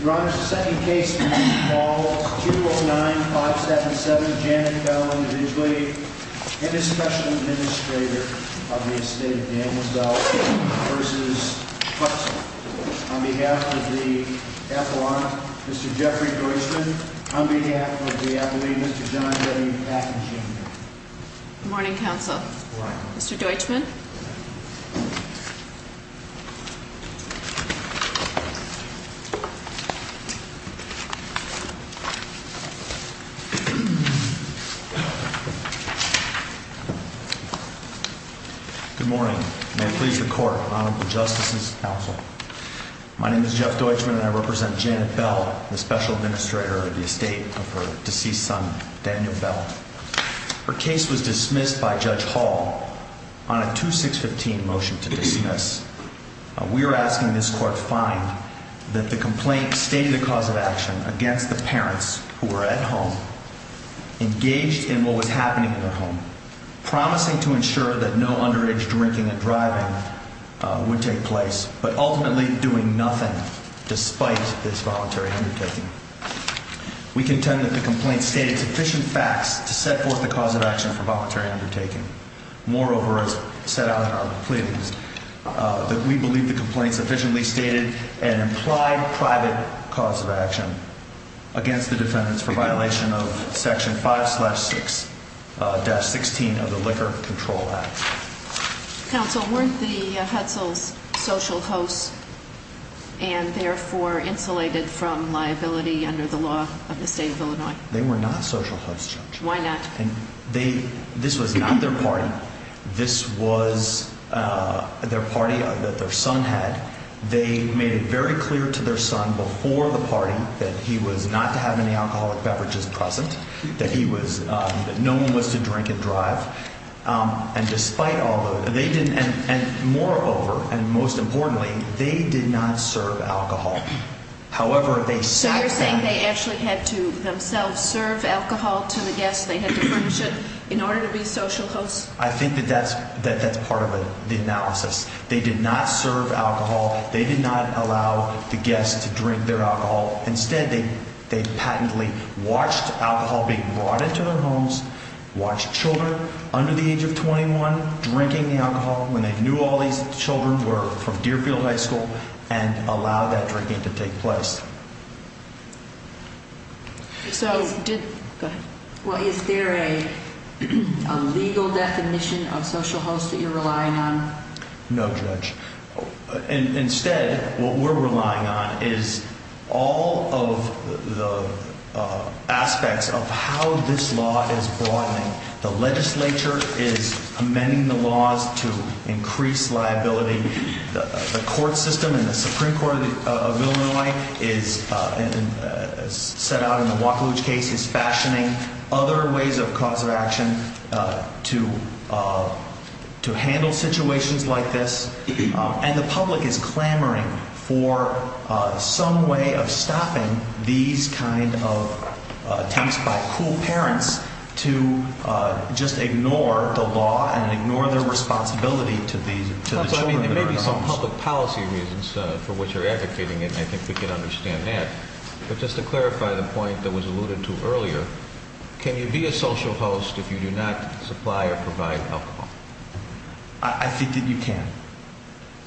Your Honor, the second case is Paul 209-577, Janet Bell, individually, and is special administrator of the estate of Daniels Bell v. Hutsell. On behalf of the F.O.R., Mr. Jeffrey Deutschman. On behalf of the F.O.A., Mr. John W. Atkins, Jr. Good morning, counsel. Mr. Deutschman. Good morning. May it please the Court, Honorable Justices, counsel. My name is Jeff Deutschman and I represent Janet Bell, the special administrator of the estate of her deceased son, Daniel Bell. Her case was dismissed by Judge Hall on a 2615 motion to dismiss. We are asking this Court to find that the complaint stated a cause of action against the parents who were at home, engaged in what was happening in their home, promising to ensure that no underage drinking and driving would take place, but ultimately doing nothing despite this voluntary undertaking. We contend that the complaint stated sufficient facts to set forth the cause of action for voluntary undertaking. Moreover, as set out in our pleadings, that we believe the complaint sufficiently stated an implied private cause of action against the defendants for violation of section 5-6-16 of the Liquor Control Act. Counsel, weren't the Hutzels social hosts and therefore insulated from liability under the law of the state of Illinois? They were not social hosts, Judge. Why not? This was not their party. This was their party that their son had. They made it very clear to their son before the party that he was not to have any alcoholic beverages present, that he was – that no one was to drink and drive. And despite all the – they didn't – and moreover, and most importantly, they did not serve alcohol. However, they sat down – So you're saying they actually had to themselves serve alcohol to the guests, they had to furnish it in order to be social hosts? I think that that's part of the analysis. They did not serve alcohol. They did not allow the guests to drink their alcohol. Instead, they patently watched alcohol being brought into their homes, watched children under the age of 21 drinking the alcohol when they knew all these children were from Deerfield High School, and allowed that drinking to take place. So – Go ahead. Well, is there a legal definition of social host that you're relying on? No, Judge. Instead, what we're relying on is all of the aspects of how this law is broadening. The legislature is amending the laws to increase liability. The court system in the Supreme Court of Illinois is – set out in the Wacolooge case is fashioning other ways of cause of action to handle situations like this. And the public is clamoring for some way of stopping these kind of attempts by cool parents to just ignore the law and ignore their responsibility to the children that are in the homes. There may be some public policy reasons for which you're advocating, and I think we can understand that. But just to clarify the point that was alluded to earlier, can you be a social host if you do not supply or provide alcohol? I think that you can.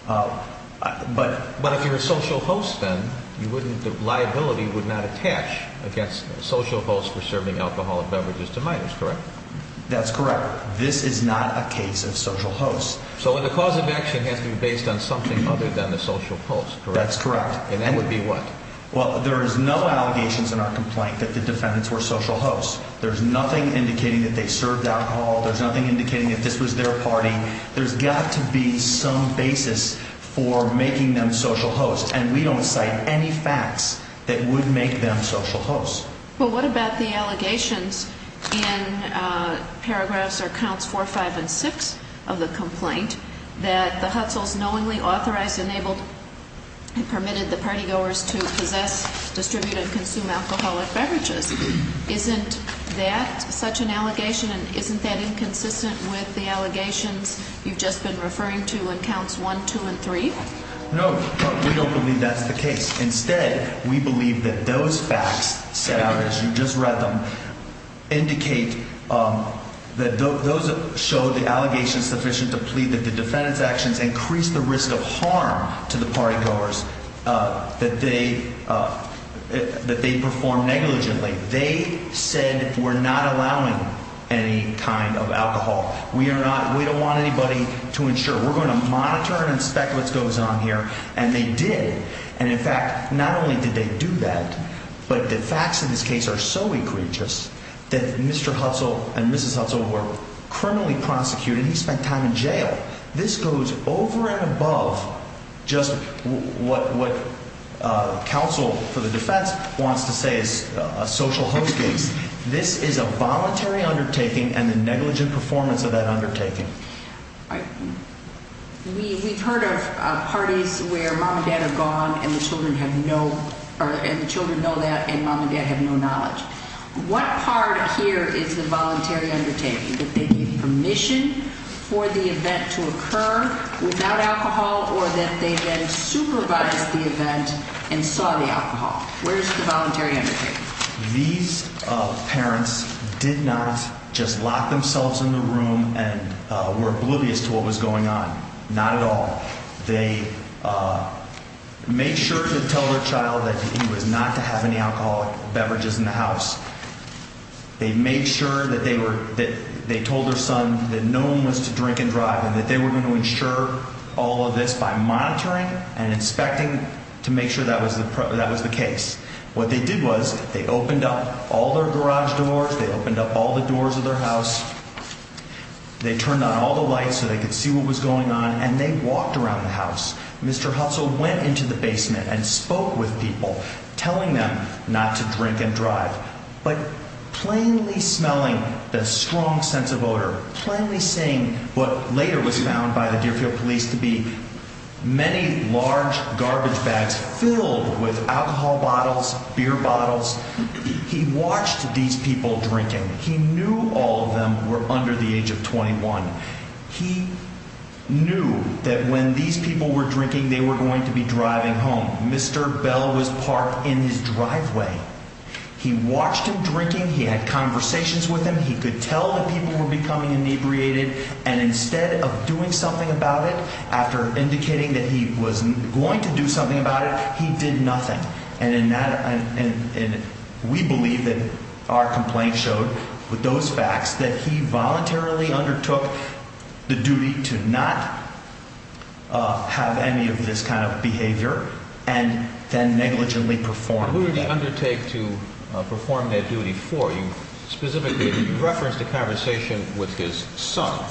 But if you're a social host, then the liability would not attach against social hosts for serving alcohol and beverages to minors, correct? That's correct. This is not a case of social hosts. So the cause of action has to be based on something other than the social host, correct? That's correct. And that would be what? Well, there is no allegations in our complaint that the defendants were social hosts. There's nothing indicating that they served alcohol. There's nothing indicating that this was their party. There's got to be some basis for making them social hosts. And we don't cite any facts that would make them social hosts. Well, what about the allegations in paragraphs or counts 4, 5, and 6 of the complaint that the Hutzels knowingly authorized, enabled, and permitted the partygoers to possess, distribute, and consume alcoholic beverages? Isn't that such an allegation, and isn't that inconsistent with the allegations you've just been referring to in counts 1, 2, and 3? No, we don't believe that's the case. Instead, we believe that those facts set out, as you just read them, indicate that those show the allegations sufficient to plead that the defendant's actions increase the risk of harm to the partygoers that they perform negligently. They said we're not allowing any kind of alcohol. We are not – we don't want anybody to ensure. We're going to monitor and inspect what goes on here, and they did. And, in fact, not only did they do that, but the facts of this case are so egregious that Mr. Hutzel and Mrs. Hutzel were criminally prosecuted. He spent time in jail. This goes over and above just what counsel for the defense wants to say is a social host case. This is a voluntary undertaking and the negligent performance of that undertaking. We've heard of parties where mom and dad are gone and the children have no – and the children know that and mom and dad have no knowledge. What part here is the voluntary undertaking, that they gave permission for the event to occur without alcohol or that they then supervised the event and saw the alcohol? Where is the voluntary undertaking? These parents did not just lock themselves in the room and were oblivious to what was going on, not at all. They made sure to tell their child that he was not to have any alcoholic beverages in the house. They made sure that they were – that they told their son that no one was to drink and drive and that they were going to ensure all of this by monitoring and inspecting to make sure that was the case. What they did was they opened up all their garage doors. They opened up all the doors of their house. They turned on all the lights so they could see what was going on and they walked around the house. Mr. Hutzel went into the basement and spoke with people, telling them not to drink and drive, but plainly smelling the strong sense of odor, plainly seeing what later was found by the Deerfield police to be many large garbage bags filled with alcohol bottles. Beer bottles. He watched these people drinking. He knew all of them were under the age of 21. He knew that when these people were drinking, they were going to be driving home. Mr. Bell was parked in his driveway. He watched him drinking. He had conversations with him. He could tell that people were becoming inebriated. And instead of doing something about it, after indicating that he was going to do something about it, he did nothing. And in that, we believe that our complaint showed with those facts that he voluntarily undertook the duty to not have any of this kind of behavior and then negligently performed that. What would he undertake to perform that duty for? He referenced a conversation with his son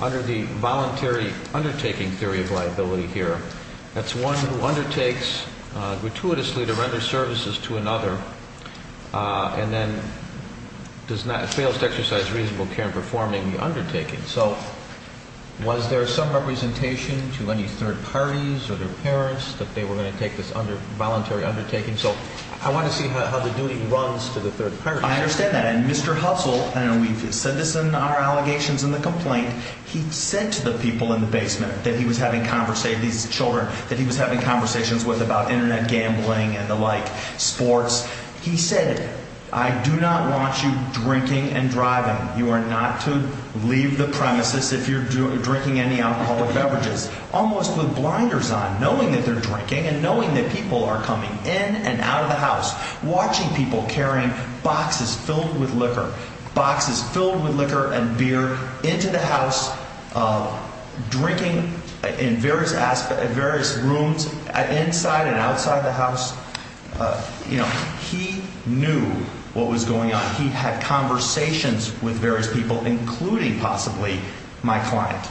under the voluntary undertaking theory of liability here. That's one who undertakes gratuitously to render services to another and then fails to exercise reasonable care in performing the undertaking. So was there some representation to any third parties or their parents that they were going to take this voluntary undertaking? So I want to see how the duty runs to the third party. I understand that. And Mr. Hussle, and we've said this in our allegations in the complaint, he said to the people in the basement that he was having these children that he was having conversations with about Internet gambling and the like, sports. He said, I do not want you drinking and driving. You are not to leave the premises if you're drinking any alcohol or beverages. Almost with blinders on, knowing that they're drinking and knowing that people are coming in and out of the house, watching people carrying boxes filled with liquor, boxes filled with liquor and beer into the house, drinking in various rooms inside and outside the house. You know, he knew what was going on. He had conversations with various people, including possibly my client.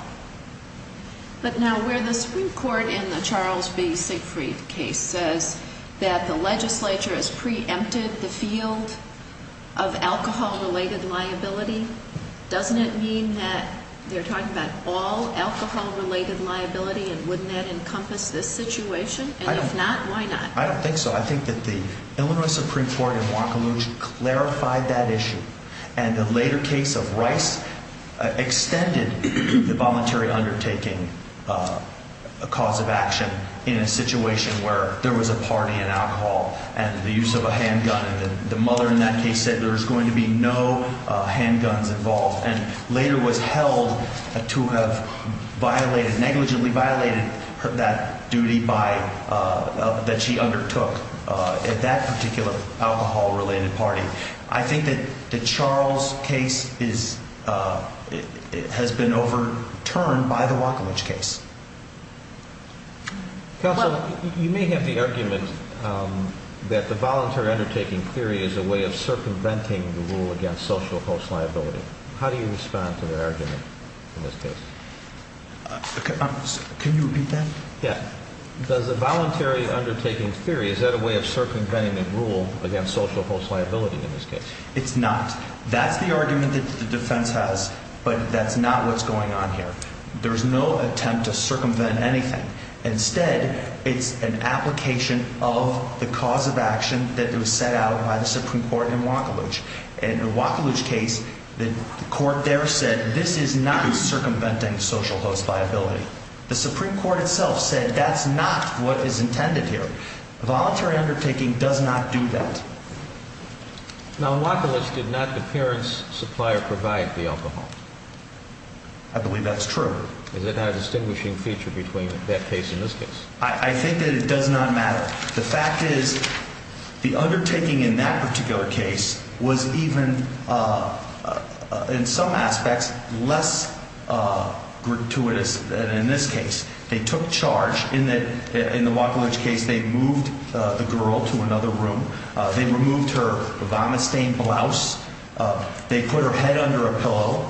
But now where the Supreme Court in the Charles B. Siegfried case says that the legislature has preempted the field of alcohol-related liability, doesn't it mean that they're talking about all alcohol-related liability and wouldn't that encompass this situation? And if not, why not? I don't think so. I think that the Illinois Supreme Court in Montgomery clarified that issue. And the later case of Rice extended the voluntary undertaking cause of action in a situation where there was a party and alcohol and the use of a handgun. And the mother in that case said there was going to be no handguns involved and later was held to have violated, negligently violated that duty that she undertook at that particular alcohol-related party. I think that the Charles case has been overturned by the Wacowich case. Counsel, you may have the argument that the voluntary undertaking theory is a way of circumventing the rule against social host liability. How do you respond to that argument in this case? Can you repeat that? Yeah. Does the voluntary undertaking theory, is that a way of circumventing the rule against social host liability in this case? It's not. That's the argument that the defense has, but that's not what's going on here. There's no attempt to circumvent anything. Instead, it's an application of the cause of action that was set out by the Supreme Court in Wacowich. In the Wacowich case, the court there said this is not circumventing social host liability. The Supreme Court itself said that's not what is intended here. Voluntary undertaking does not do that. Now, Wacowich did not, the parents' supplier, provide the alcohol. I believe that's true. Is it not a distinguishing feature between that case and this case? I think that it does not matter. The fact is the undertaking in that particular case was even, in some aspects, less gratuitous than in this case. They took charge in the Wacowich case. They moved the girl to another room. They removed her vomit-stained blouse. They put her head under a pillow.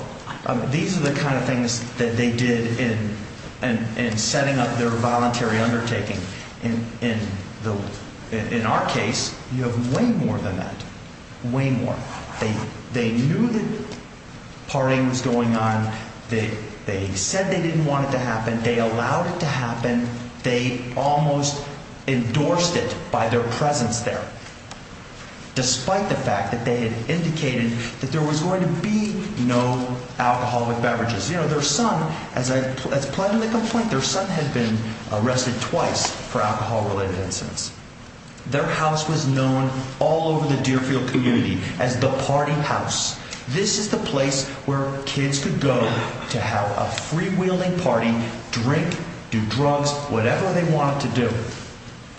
These are the kind of things that they did in setting up their voluntary undertaking. In our case, you have way more than that, way more. They knew that partying was going on. They said they didn't want it to happen. They allowed it to happen. They almost endorsed it by their presence there. Despite the fact that they had indicated that there was going to be no alcohol with beverages. You know, their son, as planned in the complaint, their son had been arrested twice for alcohol-related incidents. Their house was known all over the Deerfield community as the party house. This is the place where kids could go to have a freewheeling party, drink, do drugs, whatever they wanted to do.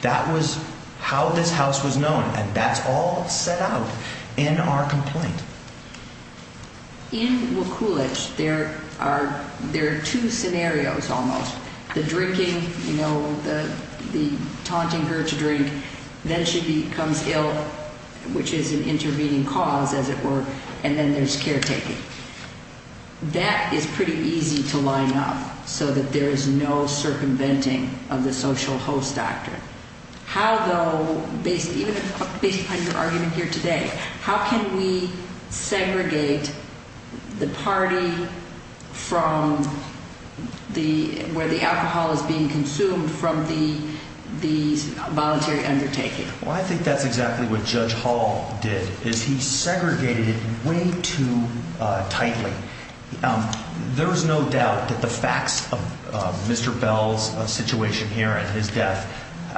That was how this house was known, and that's all set out in our complaint. In Wacowich, there are two scenarios almost. The drinking, you know, the taunting her to drink. Then she becomes ill, which is an intervening cause, as it were. And then there's caretaking. That is pretty easy to line up so that there is no circumventing of the social host doctrine. How, though, based upon your argument here today, how can we segregate the party from where the alcohol is being consumed from the voluntary undertaking? Well, I think that's exactly what Judge Hall did, is he segregated way too tightly. There is no doubt that the facts of Mr. Bell's situation here and his death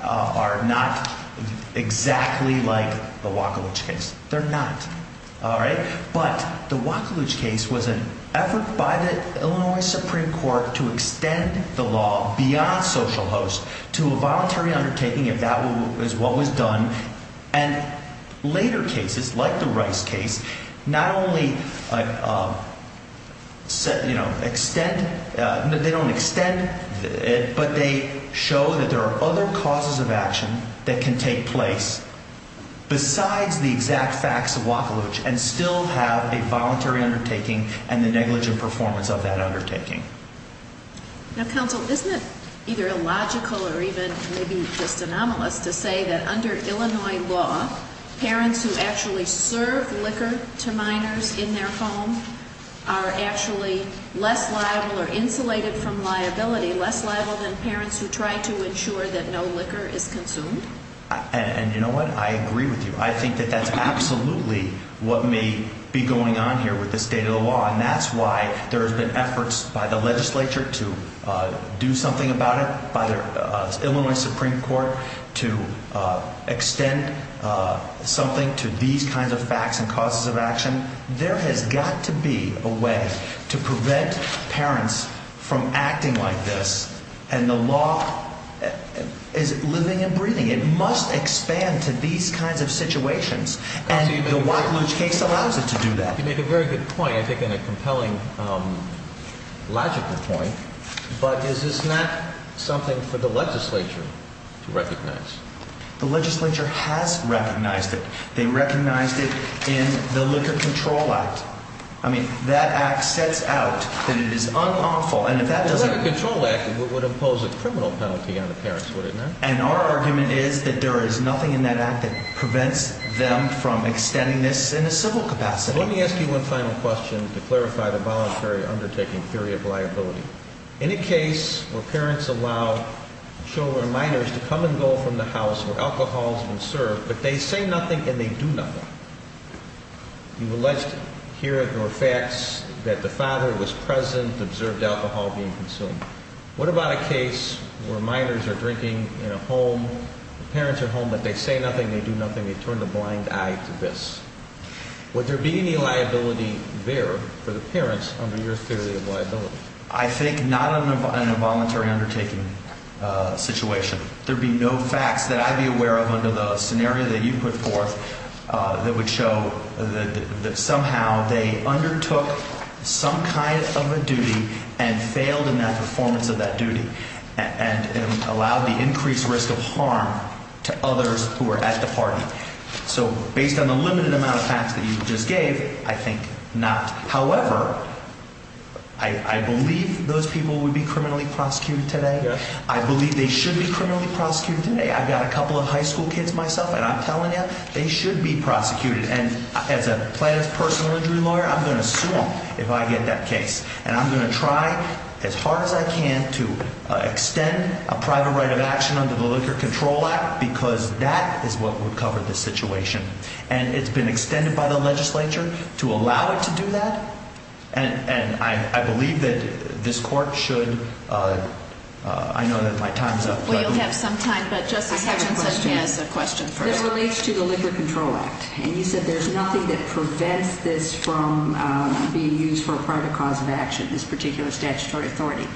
are not exactly like the Wacowich case. They're not, all right? But the Wacowich case was an effort by the Illinois Supreme Court to extend the law beyond social host to a voluntary undertaking, if that is what was done. And later cases, like the Rice case, not only, you know, extend, they don't extend, but they show that there are other causes of action that can take place besides the exact facts of Wacowich and still have a voluntary undertaking and the negligent performance of that undertaking. Now, counsel, isn't it either illogical or even maybe just anomalous to say that under Illinois law, parents who actually serve liquor to minors in their home are actually less liable or insulated from liability, less liable than parents who try to ensure that no liquor is consumed? And you know what? I agree with you. I think that that's absolutely what may be going on here with the state of the law. And that's why there's been efforts by the legislature to do something about it, by the Illinois Supreme Court, to extend something to these kinds of facts and causes of action. There has got to be a way to prevent parents from acting like this. And the law is living and breathing. It must expand to these kinds of situations. And the Wacowich case allows it to do that. You make a very good point, I think, and a compelling logical point. But is this not something for the legislature to recognize? The legislature has recognized it. They recognized it in the Liquor Control Act. I mean, that act sets out that it is unlawful. The Liquor Control Act would impose a criminal penalty on the parents, wouldn't it? And our argument is that there is nothing in that act that prevents them from extending this in a civil capacity. Let me ask you one final question to clarify the voluntary undertaking theory of liability. In a case where parents allow children, minors, to come and go from the house where alcohol has been served, but they say nothing and they do nothing, you've alleged here that there were facts that the father was present, observed alcohol being consumed. What about a case where minors are drinking in a home, the parents are home, but they say nothing, they do nothing, they turn a blind eye to this? Would there be any liability there for the parents under your theory of liability? I think not in a voluntary undertaking situation. There would be no facts that I would be aware of under the scenario that you put forth that would show that somehow they undertook some kind of a duty and failed in that performance of that duty and allowed the increased risk of harm to others who were at the party. So based on the limited amount of facts that you just gave, I think not. However, I believe those people would be criminally prosecuted today. I believe they should be criminally prosecuted today. I've got a couple of high school kids myself, and I'm telling you, they should be prosecuted. And as a plaintiff's personal injury lawyer, I'm going to sue them if I get that case. And I'm going to try as hard as I can to extend a private right of action under the Liquor Control Act because that is what would cover this situation. And it's been extended by the legislature to allow it to do that. And I believe that this court should – I know that my time's up. Well, you'll have some time, but Justice Hutchinson has a question first. This relates to the Liquor Control Act. And you said there's nothing that prevents this from being used for a private cause of action, this particular statutory authority.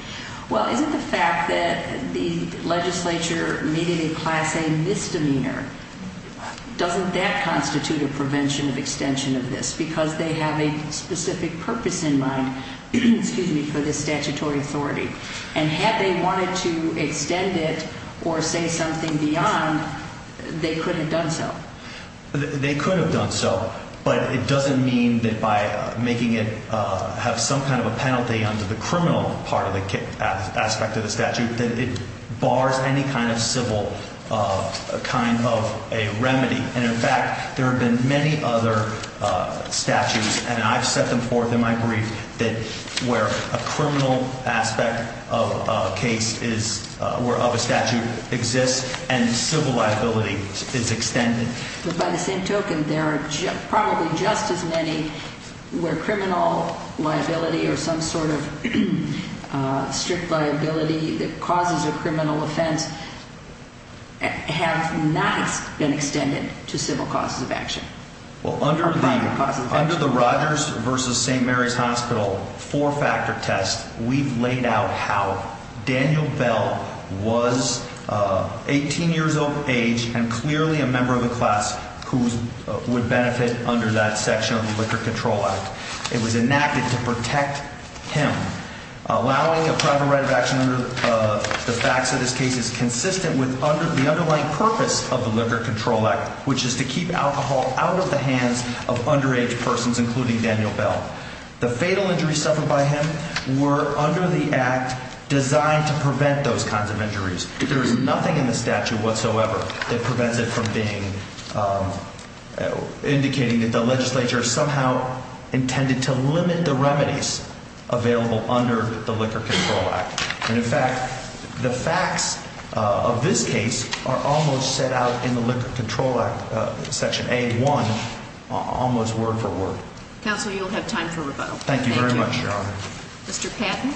Well, isn't the fact that the legislature made it a class A misdemeanor, doesn't that constitute a prevention of extension of this? Because they have a specific purpose in mind for this statutory authority. And had they wanted to extend it or say something beyond, they could have done so. They could have done so. But it doesn't mean that by making it have some kind of a penalty under the criminal part of the aspect of the statute that it bars any kind of civil kind of a remedy. And, in fact, there have been many other statutes, and I've set them forth in my brief, that where a criminal aspect of a case is – of a statute exists and civil liability is extended. But by the same token, there are probably just as many where criminal liability or some sort of strict liability that causes a criminal offense have not been extended to civil causes of action. Well, under the Rogers v. St. Mary's Hospital four-factor test, we've laid out how Daniel Bell was 18 years of age and clearly a member of a class who would benefit under that section of the Liquor Control Act. It was enacted to protect him, allowing a private right of action under the facts of this case is consistent with the underlying purpose of the Liquor Control Act, which is to keep alcohol out of the hands of underage persons, including Daniel Bell. The fatal injuries suffered by him were, under the Act, designed to prevent those kinds of injuries. There is nothing in the statute whatsoever that prevents it from being – indicating that the legislature somehow intended to limit the remedies available under the Liquor Control Act. And, in fact, the facts of this case are almost set out in the Liquor Control Act, Section A1, almost word for word. Counsel, you'll have time for rebuttal. Thank you very much, Your Honor. Mr. Patton.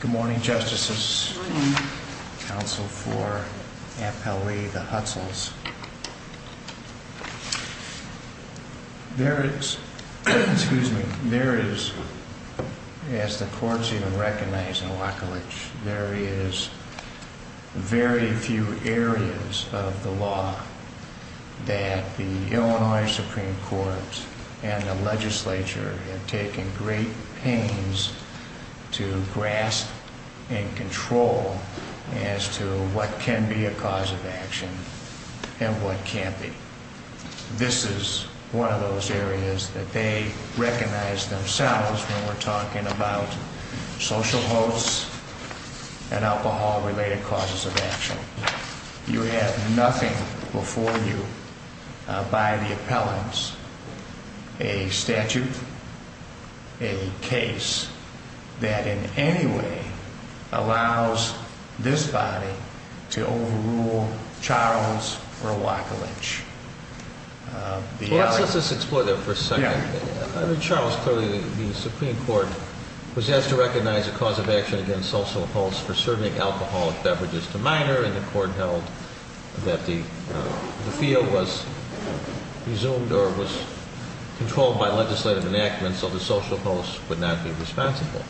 Good morning, Justices. Good morning. This is one of those areas that they recognize themselves when we're talking about social hosts and alcohol-related causes of action. You have nothing before you by the appellants, a statute, a case that in any way allows this body to overrule Charles Rewakilich. Well, let's just explore that for a second. I mean, Charles, clearly the Supreme Court was asked to recognize a cause of action against social hosts for serving alcoholic beverages to minors, and the Court held that the field was resumed or was controlled by legislative enactment, so the social host would not be responsible.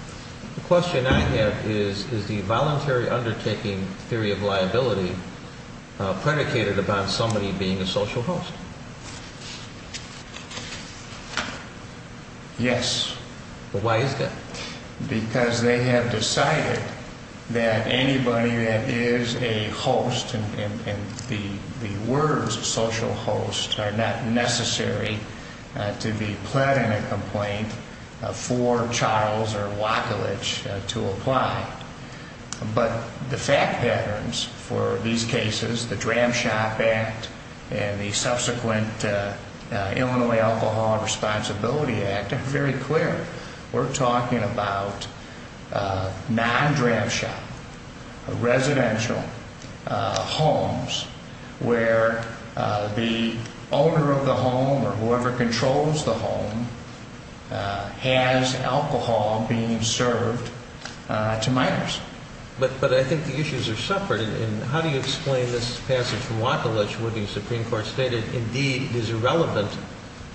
The question I have is, is the voluntary undertaking theory of liability predicated upon somebody being a social host? Yes. Why is that? Because they have decided that anybody that is a host, and the words social host are not necessary to be pled in a complaint for Charles Rewakilich to apply. But the fact patterns for these cases, the Dram Shop Act and the subsequent Illinois Alcohol Responsibility Act, are very clear. We're talking about non-Dram Shop, residential homes where the owner of the home or whoever controls the home has alcohol being served to minors. But I think the issues are separate, and how do you explain this passage from Rewakilich where the Supreme Court stated, indeed, it is irrelevant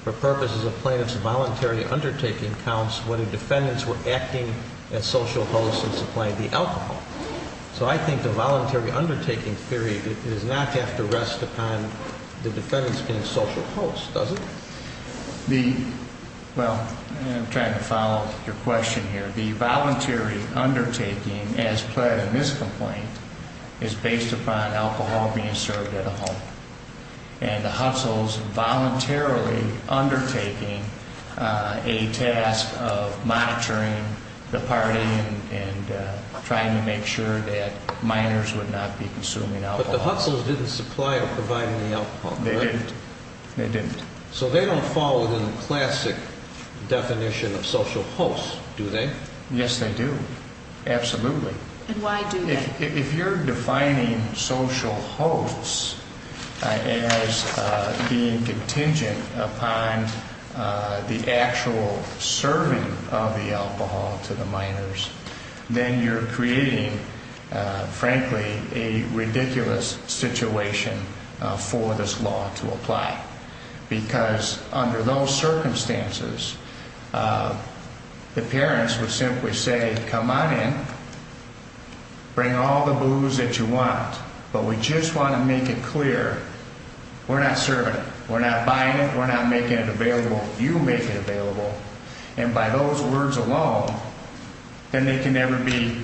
for purposes of plaintiff's voluntary undertaking counts whether defendants were acting as social hosts and supplying the alcohol? So I think the voluntary undertaking theory does not have to rest upon the defendants being social hosts, does it? Well, I'm trying to follow your question here. The voluntary undertaking as pled in this complaint is based upon alcohol being served at a home. And the Hustles voluntarily undertaking a task of monitoring the party and trying to make sure that minors would not be consuming alcohol. But the Hustles didn't supply or provide any alcohol. They didn't. So they don't fall within the classic definition of social hosts, do they? Yes, they do. Absolutely. And why do they? Well, if you're defining social hosts as being contingent upon the actual serving of the alcohol to the minors, then you're creating, frankly, a ridiculous situation for this law to apply. Because under those circumstances, the parents would simply say, come on in, bring all the booze that you want, but we just want to make it clear we're not serving it. We're not buying it. We're not making it available. You make it available. And by those words alone, then they can never be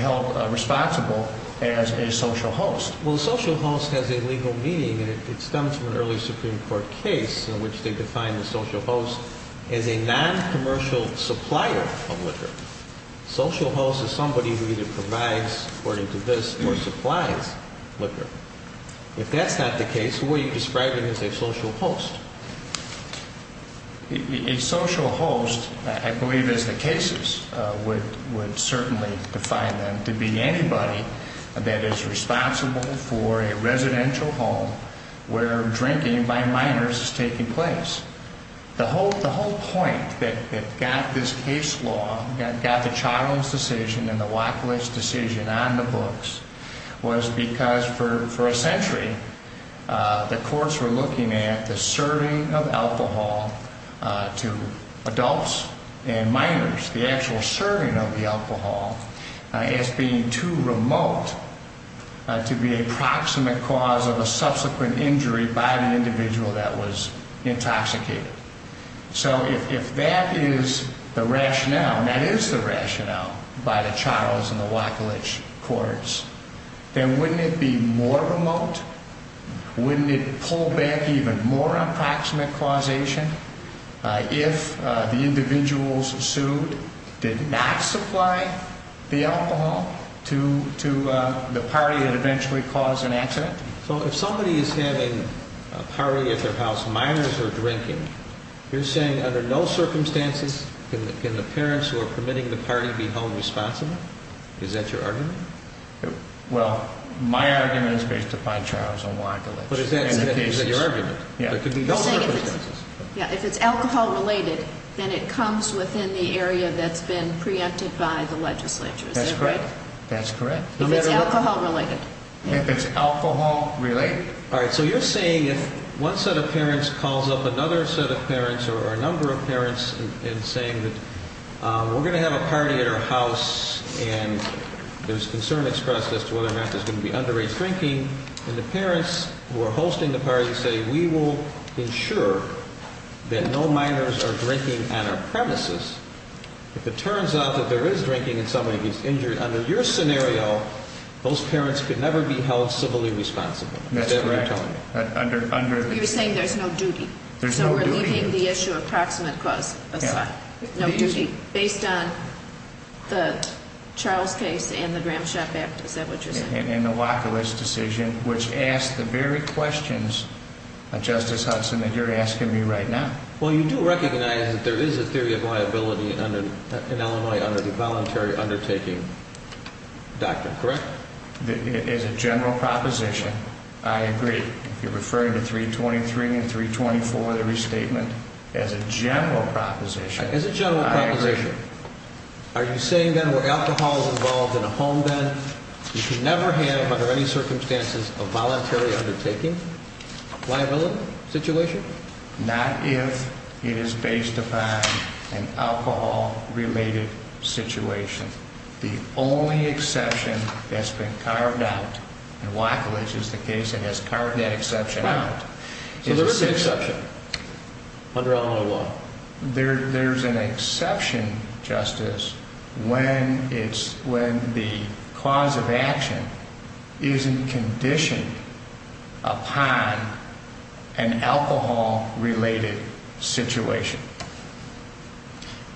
held responsible as a social host. Well, social host has a legal meaning, and it stems from an early Supreme Court case in which they defined the social host as a noncommercial supplier of liquor. Social host is somebody who either provides, according to this, or supplies liquor. If that's not the case, what are you describing as a social host? A social host, I believe, as the cases would certainly define them, to be anybody that is responsible for a residential home where drinking by minors is taking place. The whole point that got this case law, that got the Charles decision and the Wachlich decision on the books, was because for a century the courts were looking at the serving of alcohol to adults and minors, the actual serving of the alcohol, as being too remote to be a proximate cause of a subsequent injury by the individual that was intoxicated. So if that is the rationale, and that is the rationale by the Charles and the Wachlich courts, then wouldn't it be more remote? Wouldn't it pull back even more on proximate causation if the individuals sued did not supply the alcohol to the party that eventually caused an accident? So if somebody is having a party at their house, minors are drinking, you're saying under no circumstances can the parents who are permitting the party be home responsible? Is that your argument? Well, my argument is based upon Charles and Wachlich. But is that your argument? If it's alcohol related, then it comes within the area that's been preempted by the legislature, is that right? That's correct. If it's alcohol related. If it's alcohol related. All right. So you're saying if one set of parents calls up another set of parents or a number of parents and saying that we're going to have a party at our house and there's concern expressed as to whether or not there's going to be underage drinking, and the parents who are hosting the party say we will ensure that no minors are drinking on our premises, if it turns out that there is drinking in somebody who's injured under your scenario, those parents could never be held civilly responsible. That's correct. You're saying there's no duty. There's no duty. So we're leaving the issue of proximate cause aside. No duty. Based on the Charles case and the Gramsci-Baptist, is that what you're saying? And the Wachlich decision, which asks the very questions, Justice Hudson, that you're asking me right now. Well, you do recognize that there is a theory of liability in Illinois under the voluntary undertaking doctrine, correct? As a general proposition, I agree. You're referring to 323 and 324, the restatement, as a general proposition. As a general proposition. I agree. Are you saying, then, where alcohol is involved in a home, then, you can never have under any circumstances a voluntary undertaking liability situation? Not if it is based upon an alcohol-related situation. The only exception that's been carved out, and Wachlich is the case that has carved that exception out. So there is an exception under Illinois law. There's an exception, Justice, when the cause of action isn't conditioned upon an alcohol-related situation.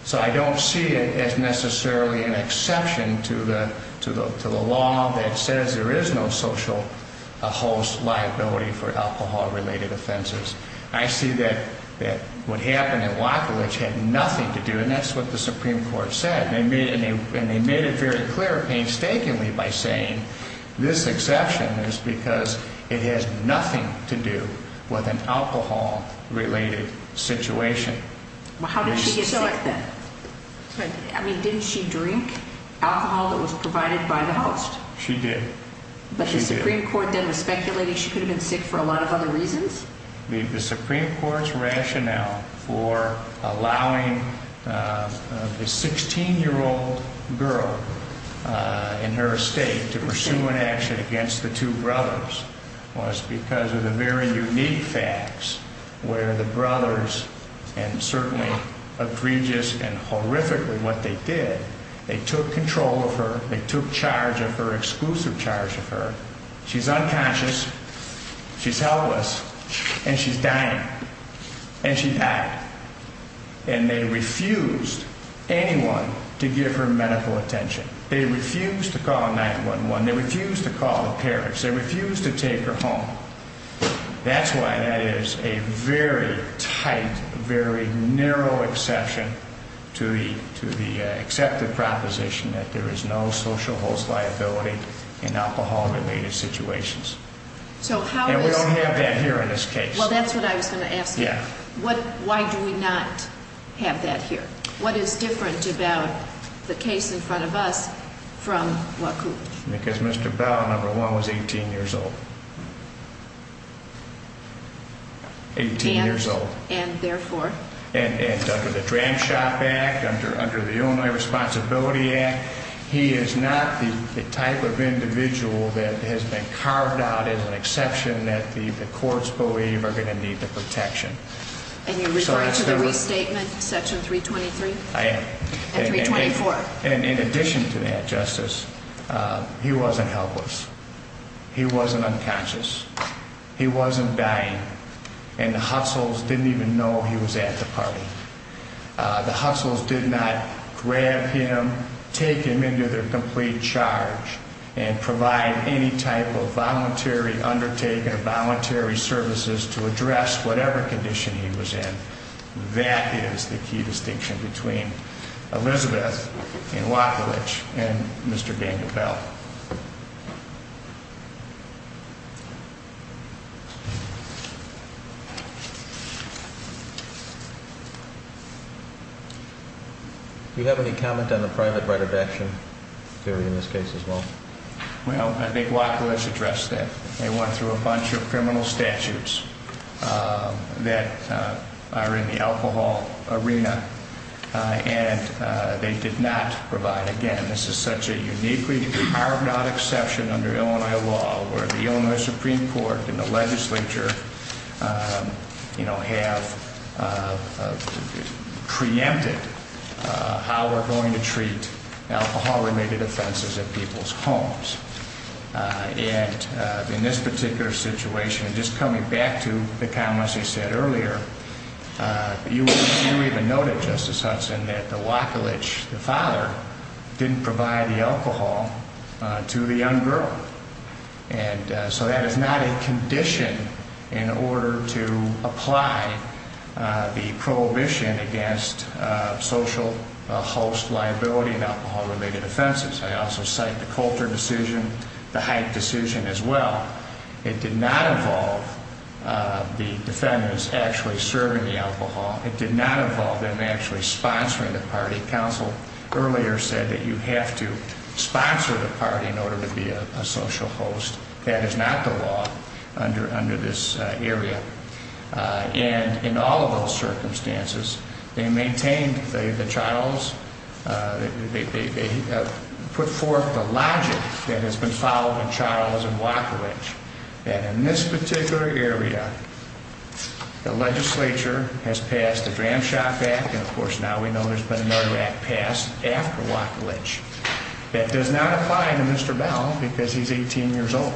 So I don't see it as necessarily an exception to the law that says there is no social host liability for alcohol-related offenses. I see that what happened at Wachlich had nothing to do, and that's what the Supreme Court said. And they made it very clear, painstakingly, by saying this exception is because it has nothing to do with an alcohol-related situation. Well, how did she get sick, then? I mean, didn't she drink alcohol that was provided by the host? She did. But the Supreme Court then was speculating she could have been sick for a lot of other reasons? The Supreme Court's rationale for allowing a 16-year-old girl in her estate to pursue an action against the two brothers was because of the very unique facts where the brothers, and certainly egregious and horrifically what they did, they took control of her, they took charge of her, exclusive charge of her. She's unconscious, she's helpless, and she's dying. And she died. And they refused anyone to give her medical attention. They refused to call 911. They refused to call the parents. They refused to take her home. That's why that is a very tight, very narrow exception to the accepted proposition that there is no social host liability in alcohol-related situations. And we don't have that here in this case. Well, that's what I was going to ask you. Yeah. Why do we not have that here? What is different about the case in front of us from WACU? Because Mr. Bell, number one, was 18 years old. Eighteen years old. And therefore? And under the Dram Shop Act, under the Illinois Responsibility Act, he is not the type of individual that has been carved out as an exception that the courts believe are going to need the protection. And you're referring to the restatement, Section 323? I am. And 324? And in addition to that, Justice, he wasn't helpless. He wasn't unconscious. He wasn't dying. And the Hussles didn't even know he was at the party. The Hussles did not grab him, take him into their complete charge, and provide any type of voluntary undertaking or voluntary services to address whatever condition he was in. That is the key distinction between Elizabeth and Wacolich and Mr. Daniel Bell. Do you have any comment on the private right of action theory in this case as well? Well, I think Wacolich addressed that. They went through a bunch of criminal statutes that are in the alcohol arena, and they did not provide. Again, this is such a uniquely carved-out exception under Illinois law, where the Illinois Supreme Court and the legislature, you know, have preempted how we're going to treat alcohol-related offenses at people's homes. And in this particular situation, just coming back to the comments you said earlier, you even noted, Justice Hudson, that the Wacolich, the father, didn't provide the alcohol to the young girl. And so that is not a condition in order to apply the prohibition against social host liability in alcohol-related offenses. I also cite the Coulter decision, the Hyde decision as well. It did not involve the defendants actually serving the alcohol. It did not involve them actually sponsoring the party. Counsel earlier said that you have to sponsor the party in order to be a social host. That is not the law under this area. And in all of those circumstances, they maintained the Charles, they put forth the logic that has been followed in Charles and Wacolich, that in this particular area, the legislature has passed the Dram Shock Act, and of course now we know there's been another act passed after Wacolich, that does not apply to Mr. Bell because he's 18 years old.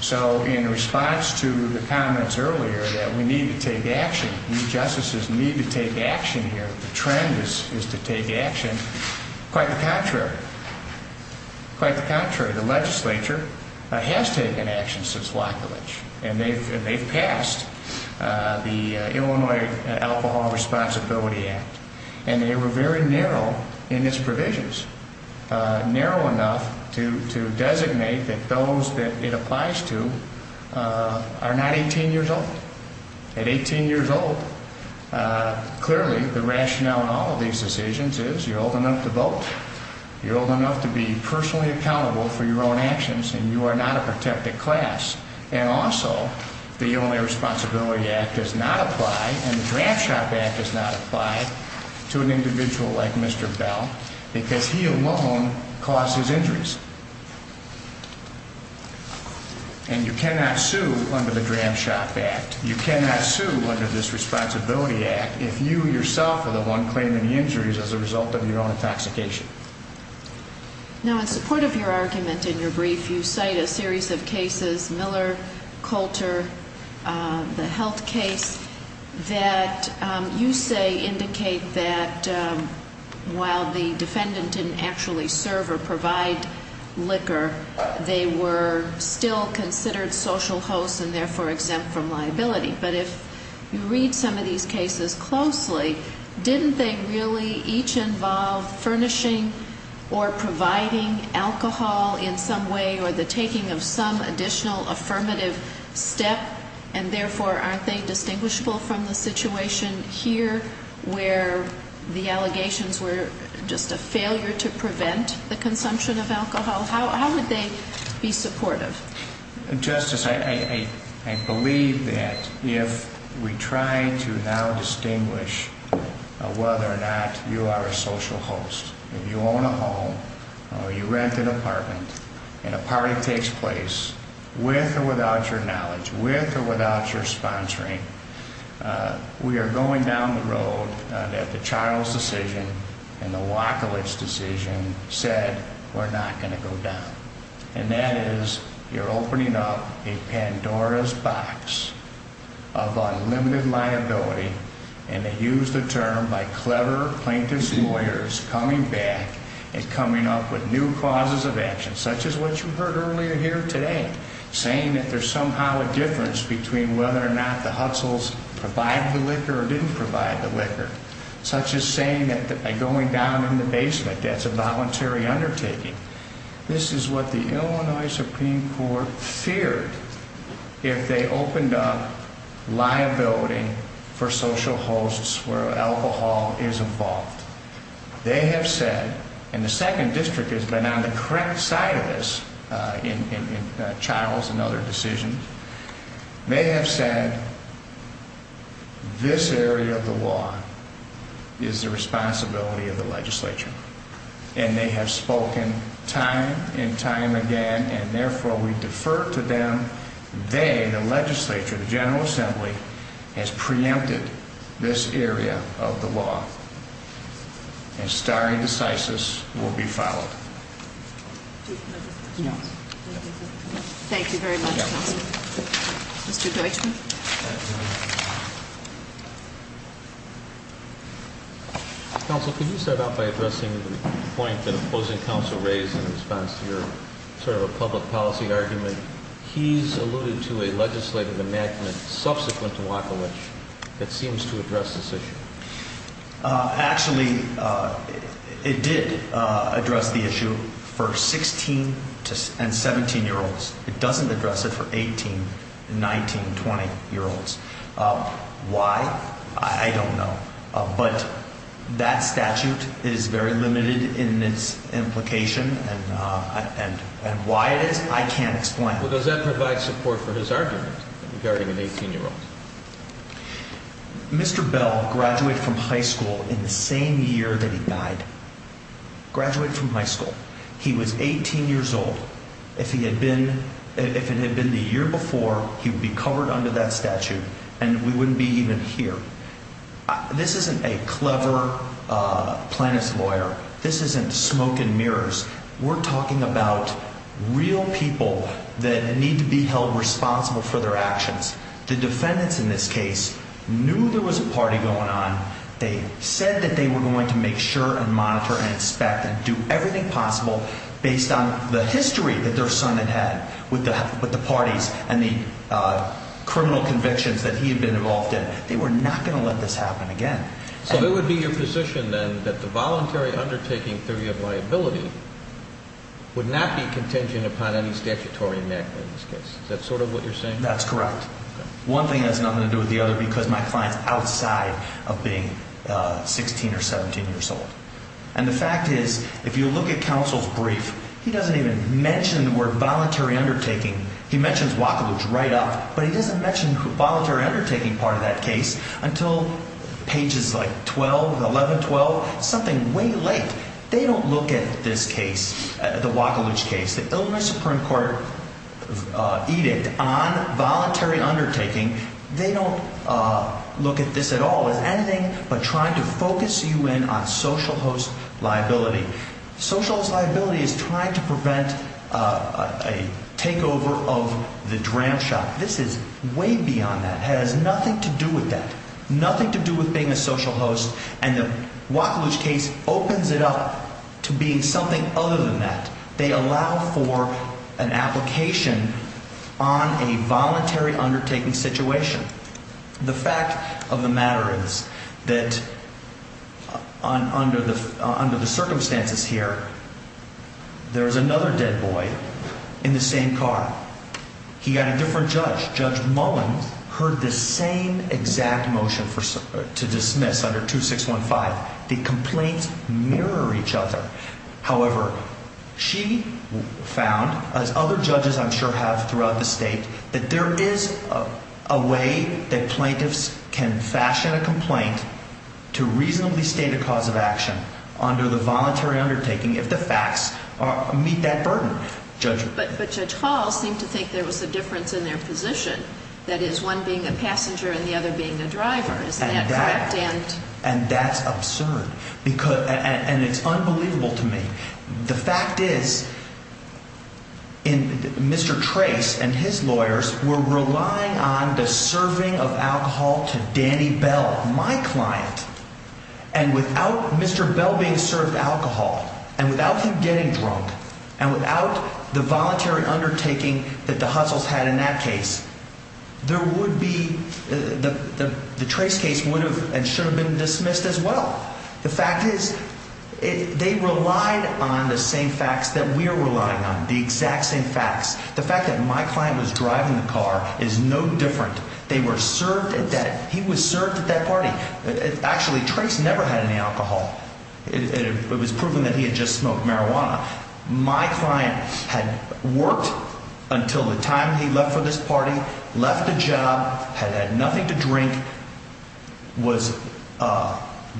So in response to the comments earlier that we need to take action, you justices need to take action here. The trend is to take action. Quite the contrary. Quite the contrary. The legislature has taken action since Wacolich, and they've passed the Illinois Alcohol Responsibility Act, and they were very narrow in its provisions, narrow enough to designate that those that it applies to are not 18 years old. At 18 years old, clearly the rationale in all of these decisions is you're old enough to vote, you're old enough to be personally accountable for your own actions, and you are not a protected class. And also the Illinois Responsibility Act does not apply, and the Dram Shock Act does not apply to an individual like Mr. Bell because he alone caused his injuries. And you cannot sue under the Dram Shock Act, you cannot sue under this Responsibility Act if you yourself are the one claiming the injuries as a result of your own intoxication. Now, in support of your argument in your brief, you cite a series of cases, Miller, Coulter, the health case, that you say indicate that while the defendant didn't actually serve or provide liquor, they were still considered social hosts and therefore exempt from liability. But if you read some of these cases closely, didn't they really each involve furnishing or providing alcohol in some way or the taking of some additional affirmative step, and therefore aren't they distinguishable from the situation here where the allegations were just a failure to prevent the consumption of alcohol? How would they be supportive? Justice, I believe that if we try to now distinguish whether or not you are a social host, if you own a home or you rent an apartment and a party takes place, with or without your knowledge, with or without your sponsoring, we are going down the road that the Charles decision and the Wachowicz decision said, we're not going to go down. And that is, you're opening up a Pandora's box of unlimited liability, and they use the term by clever plaintiff's lawyers, coming back and coming up with new causes of action, such as what you heard earlier here today, saying that there's somehow a difference between whether or not the Hutzels provide the liquor or didn't provide the liquor, such as saying that by going down in the basement that's a voluntary undertaking. This is what the Illinois Supreme Court feared if they opened up liability for social hosts where alcohol is involved. They have said, and the Second District has been on the correct side of this in Charles and other decisions, they have said this area of the law is the responsibility of the legislature. And they have spoken time and time again, and therefore we defer to them. They, the legislature, the General Assembly, has preempted this area of the law. And stare decisis will be followed. Thank you very much, counsel. Mr. Deutschman? Counsel, could you start out by addressing the point that opposing counsel raised in response to your sort of a public policy argument? He's alluded to a legislative amendment subsequent to Wackowich that seems to address this issue. Actually, it did address the issue for 16 and 17-year-olds. It doesn't address it for 18, 19, 20-year-olds. Why? I don't know. But that statute is very limited in its implication. And why it is, I can't explain. Well, does that provide support for his argument regarding an 18-year-old? Mr. Bell graduated from high school in the same year that he died. Graduated from high school. He was 18 years old. If it had been the year before, he would be covered under that statute. And we wouldn't be even here. This isn't a clever plaintiff's lawyer. This isn't smoke and mirrors. We're talking about real people that need to be held responsible for their actions. The defendants in this case knew there was a party going on. They said that they were going to make sure and monitor and inspect and do everything possible based on the history that their son had had with the parties and the criminal convictions that he had been involved in. They were not going to let this happen again. So it would be your position, then, that the voluntary undertaking theory of liability would not be contingent upon any statutory enactment in this case. Is that sort of what you're saying? That's correct. One thing has nothing to do with the other because my client is outside of being 16 or 17 years old. And the fact is, if you look at counsel's brief, he doesn't even mention the word voluntary undertaking. He mentions Wakalu's write-up, but he doesn't mention the voluntary undertaking part of that case until pages like 12, 11, 12, something way late. They don't look at this case, the Wakalu's case, the Illinois Supreme Court edict on voluntary undertaking. They don't look at this at all as anything but trying to focus you in on social host liability. Social host liability is trying to prevent a takeover of the dram shop. This is way beyond that. It has nothing to do with that, nothing to do with being a social host. And the Wakalu's case opens it up to being something other than that. They allow for an application on a voluntary undertaking situation. The fact of the matter is that under the circumstances here, there is another dead boy in the same car. He got a different judge. Judge Mullen heard the same exact motion to dismiss under 2615. The complaints mirror each other. However, she found, as other judges I'm sure have throughout the state, that there is a way that plaintiffs can fashion a complaint to reasonably state a cause of action under the voluntary undertaking if the facts meet that burden. But Judge Hall seemed to think there was a difference in their position. That is, one being a passenger and the other being a driver. Is that correct? And that's absurd. And it's unbelievable to me. The fact is, Mr. Trace and his lawyers were relying on the serving of alcohol to Danny Bell, my client. And without Mr. Bell being served alcohol, and without him getting drunk, and without the voluntary undertaking that the Hussles had in that case, the Trace case would have and should have been dismissed as well. The fact is, they relied on the same facts that we are relying on, the exact same facts. The fact that my client was driving the car is no different. They were served at that. He was served at that party. Actually, Trace never had any alcohol. It was proven that he had just smoked marijuana. My client had worked until the time he left for this party, left the job, had had nothing to drink, was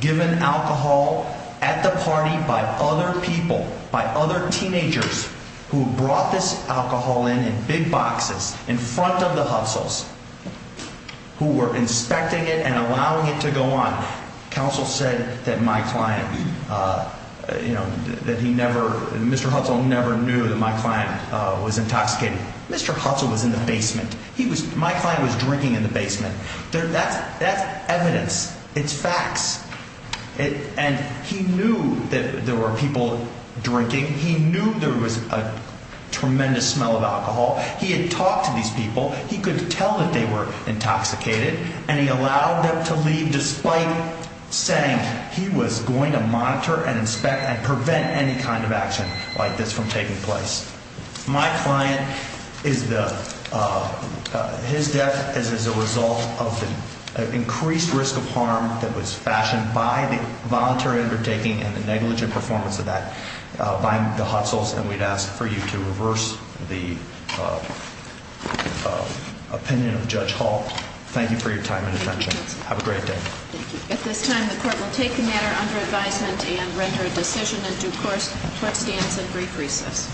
given alcohol at the party by other people, by other teenagers, who brought this alcohol in, in big boxes, in front of the Hussles, who were inspecting it and allowing it to go on. Counsel said that my client, you know, that he never, Mr. Hussle never knew that my client was intoxicated. Mr. Hussle was in the basement. He was, my client was drinking in the basement. That's evidence. It's facts. And he knew that there were people drinking. He knew there was a tremendous smell of alcohol. He had talked to these people. He could tell that they were intoxicated, and he allowed them to leave despite saying he was going to monitor and inspect and prevent any kind of action like this from taking place. My client is the, his death is as a result of the increased risk of harm that was fashioned by the voluntary undertaking and the negligent performance of that by the Hussles, and we'd ask for you to reverse the opinion of Judge Hall. Thank you for your time and attention. Have a great day. Thank you. At this time, the court will take the matter under advisement and render a decision in due course. Court stands at brief recess.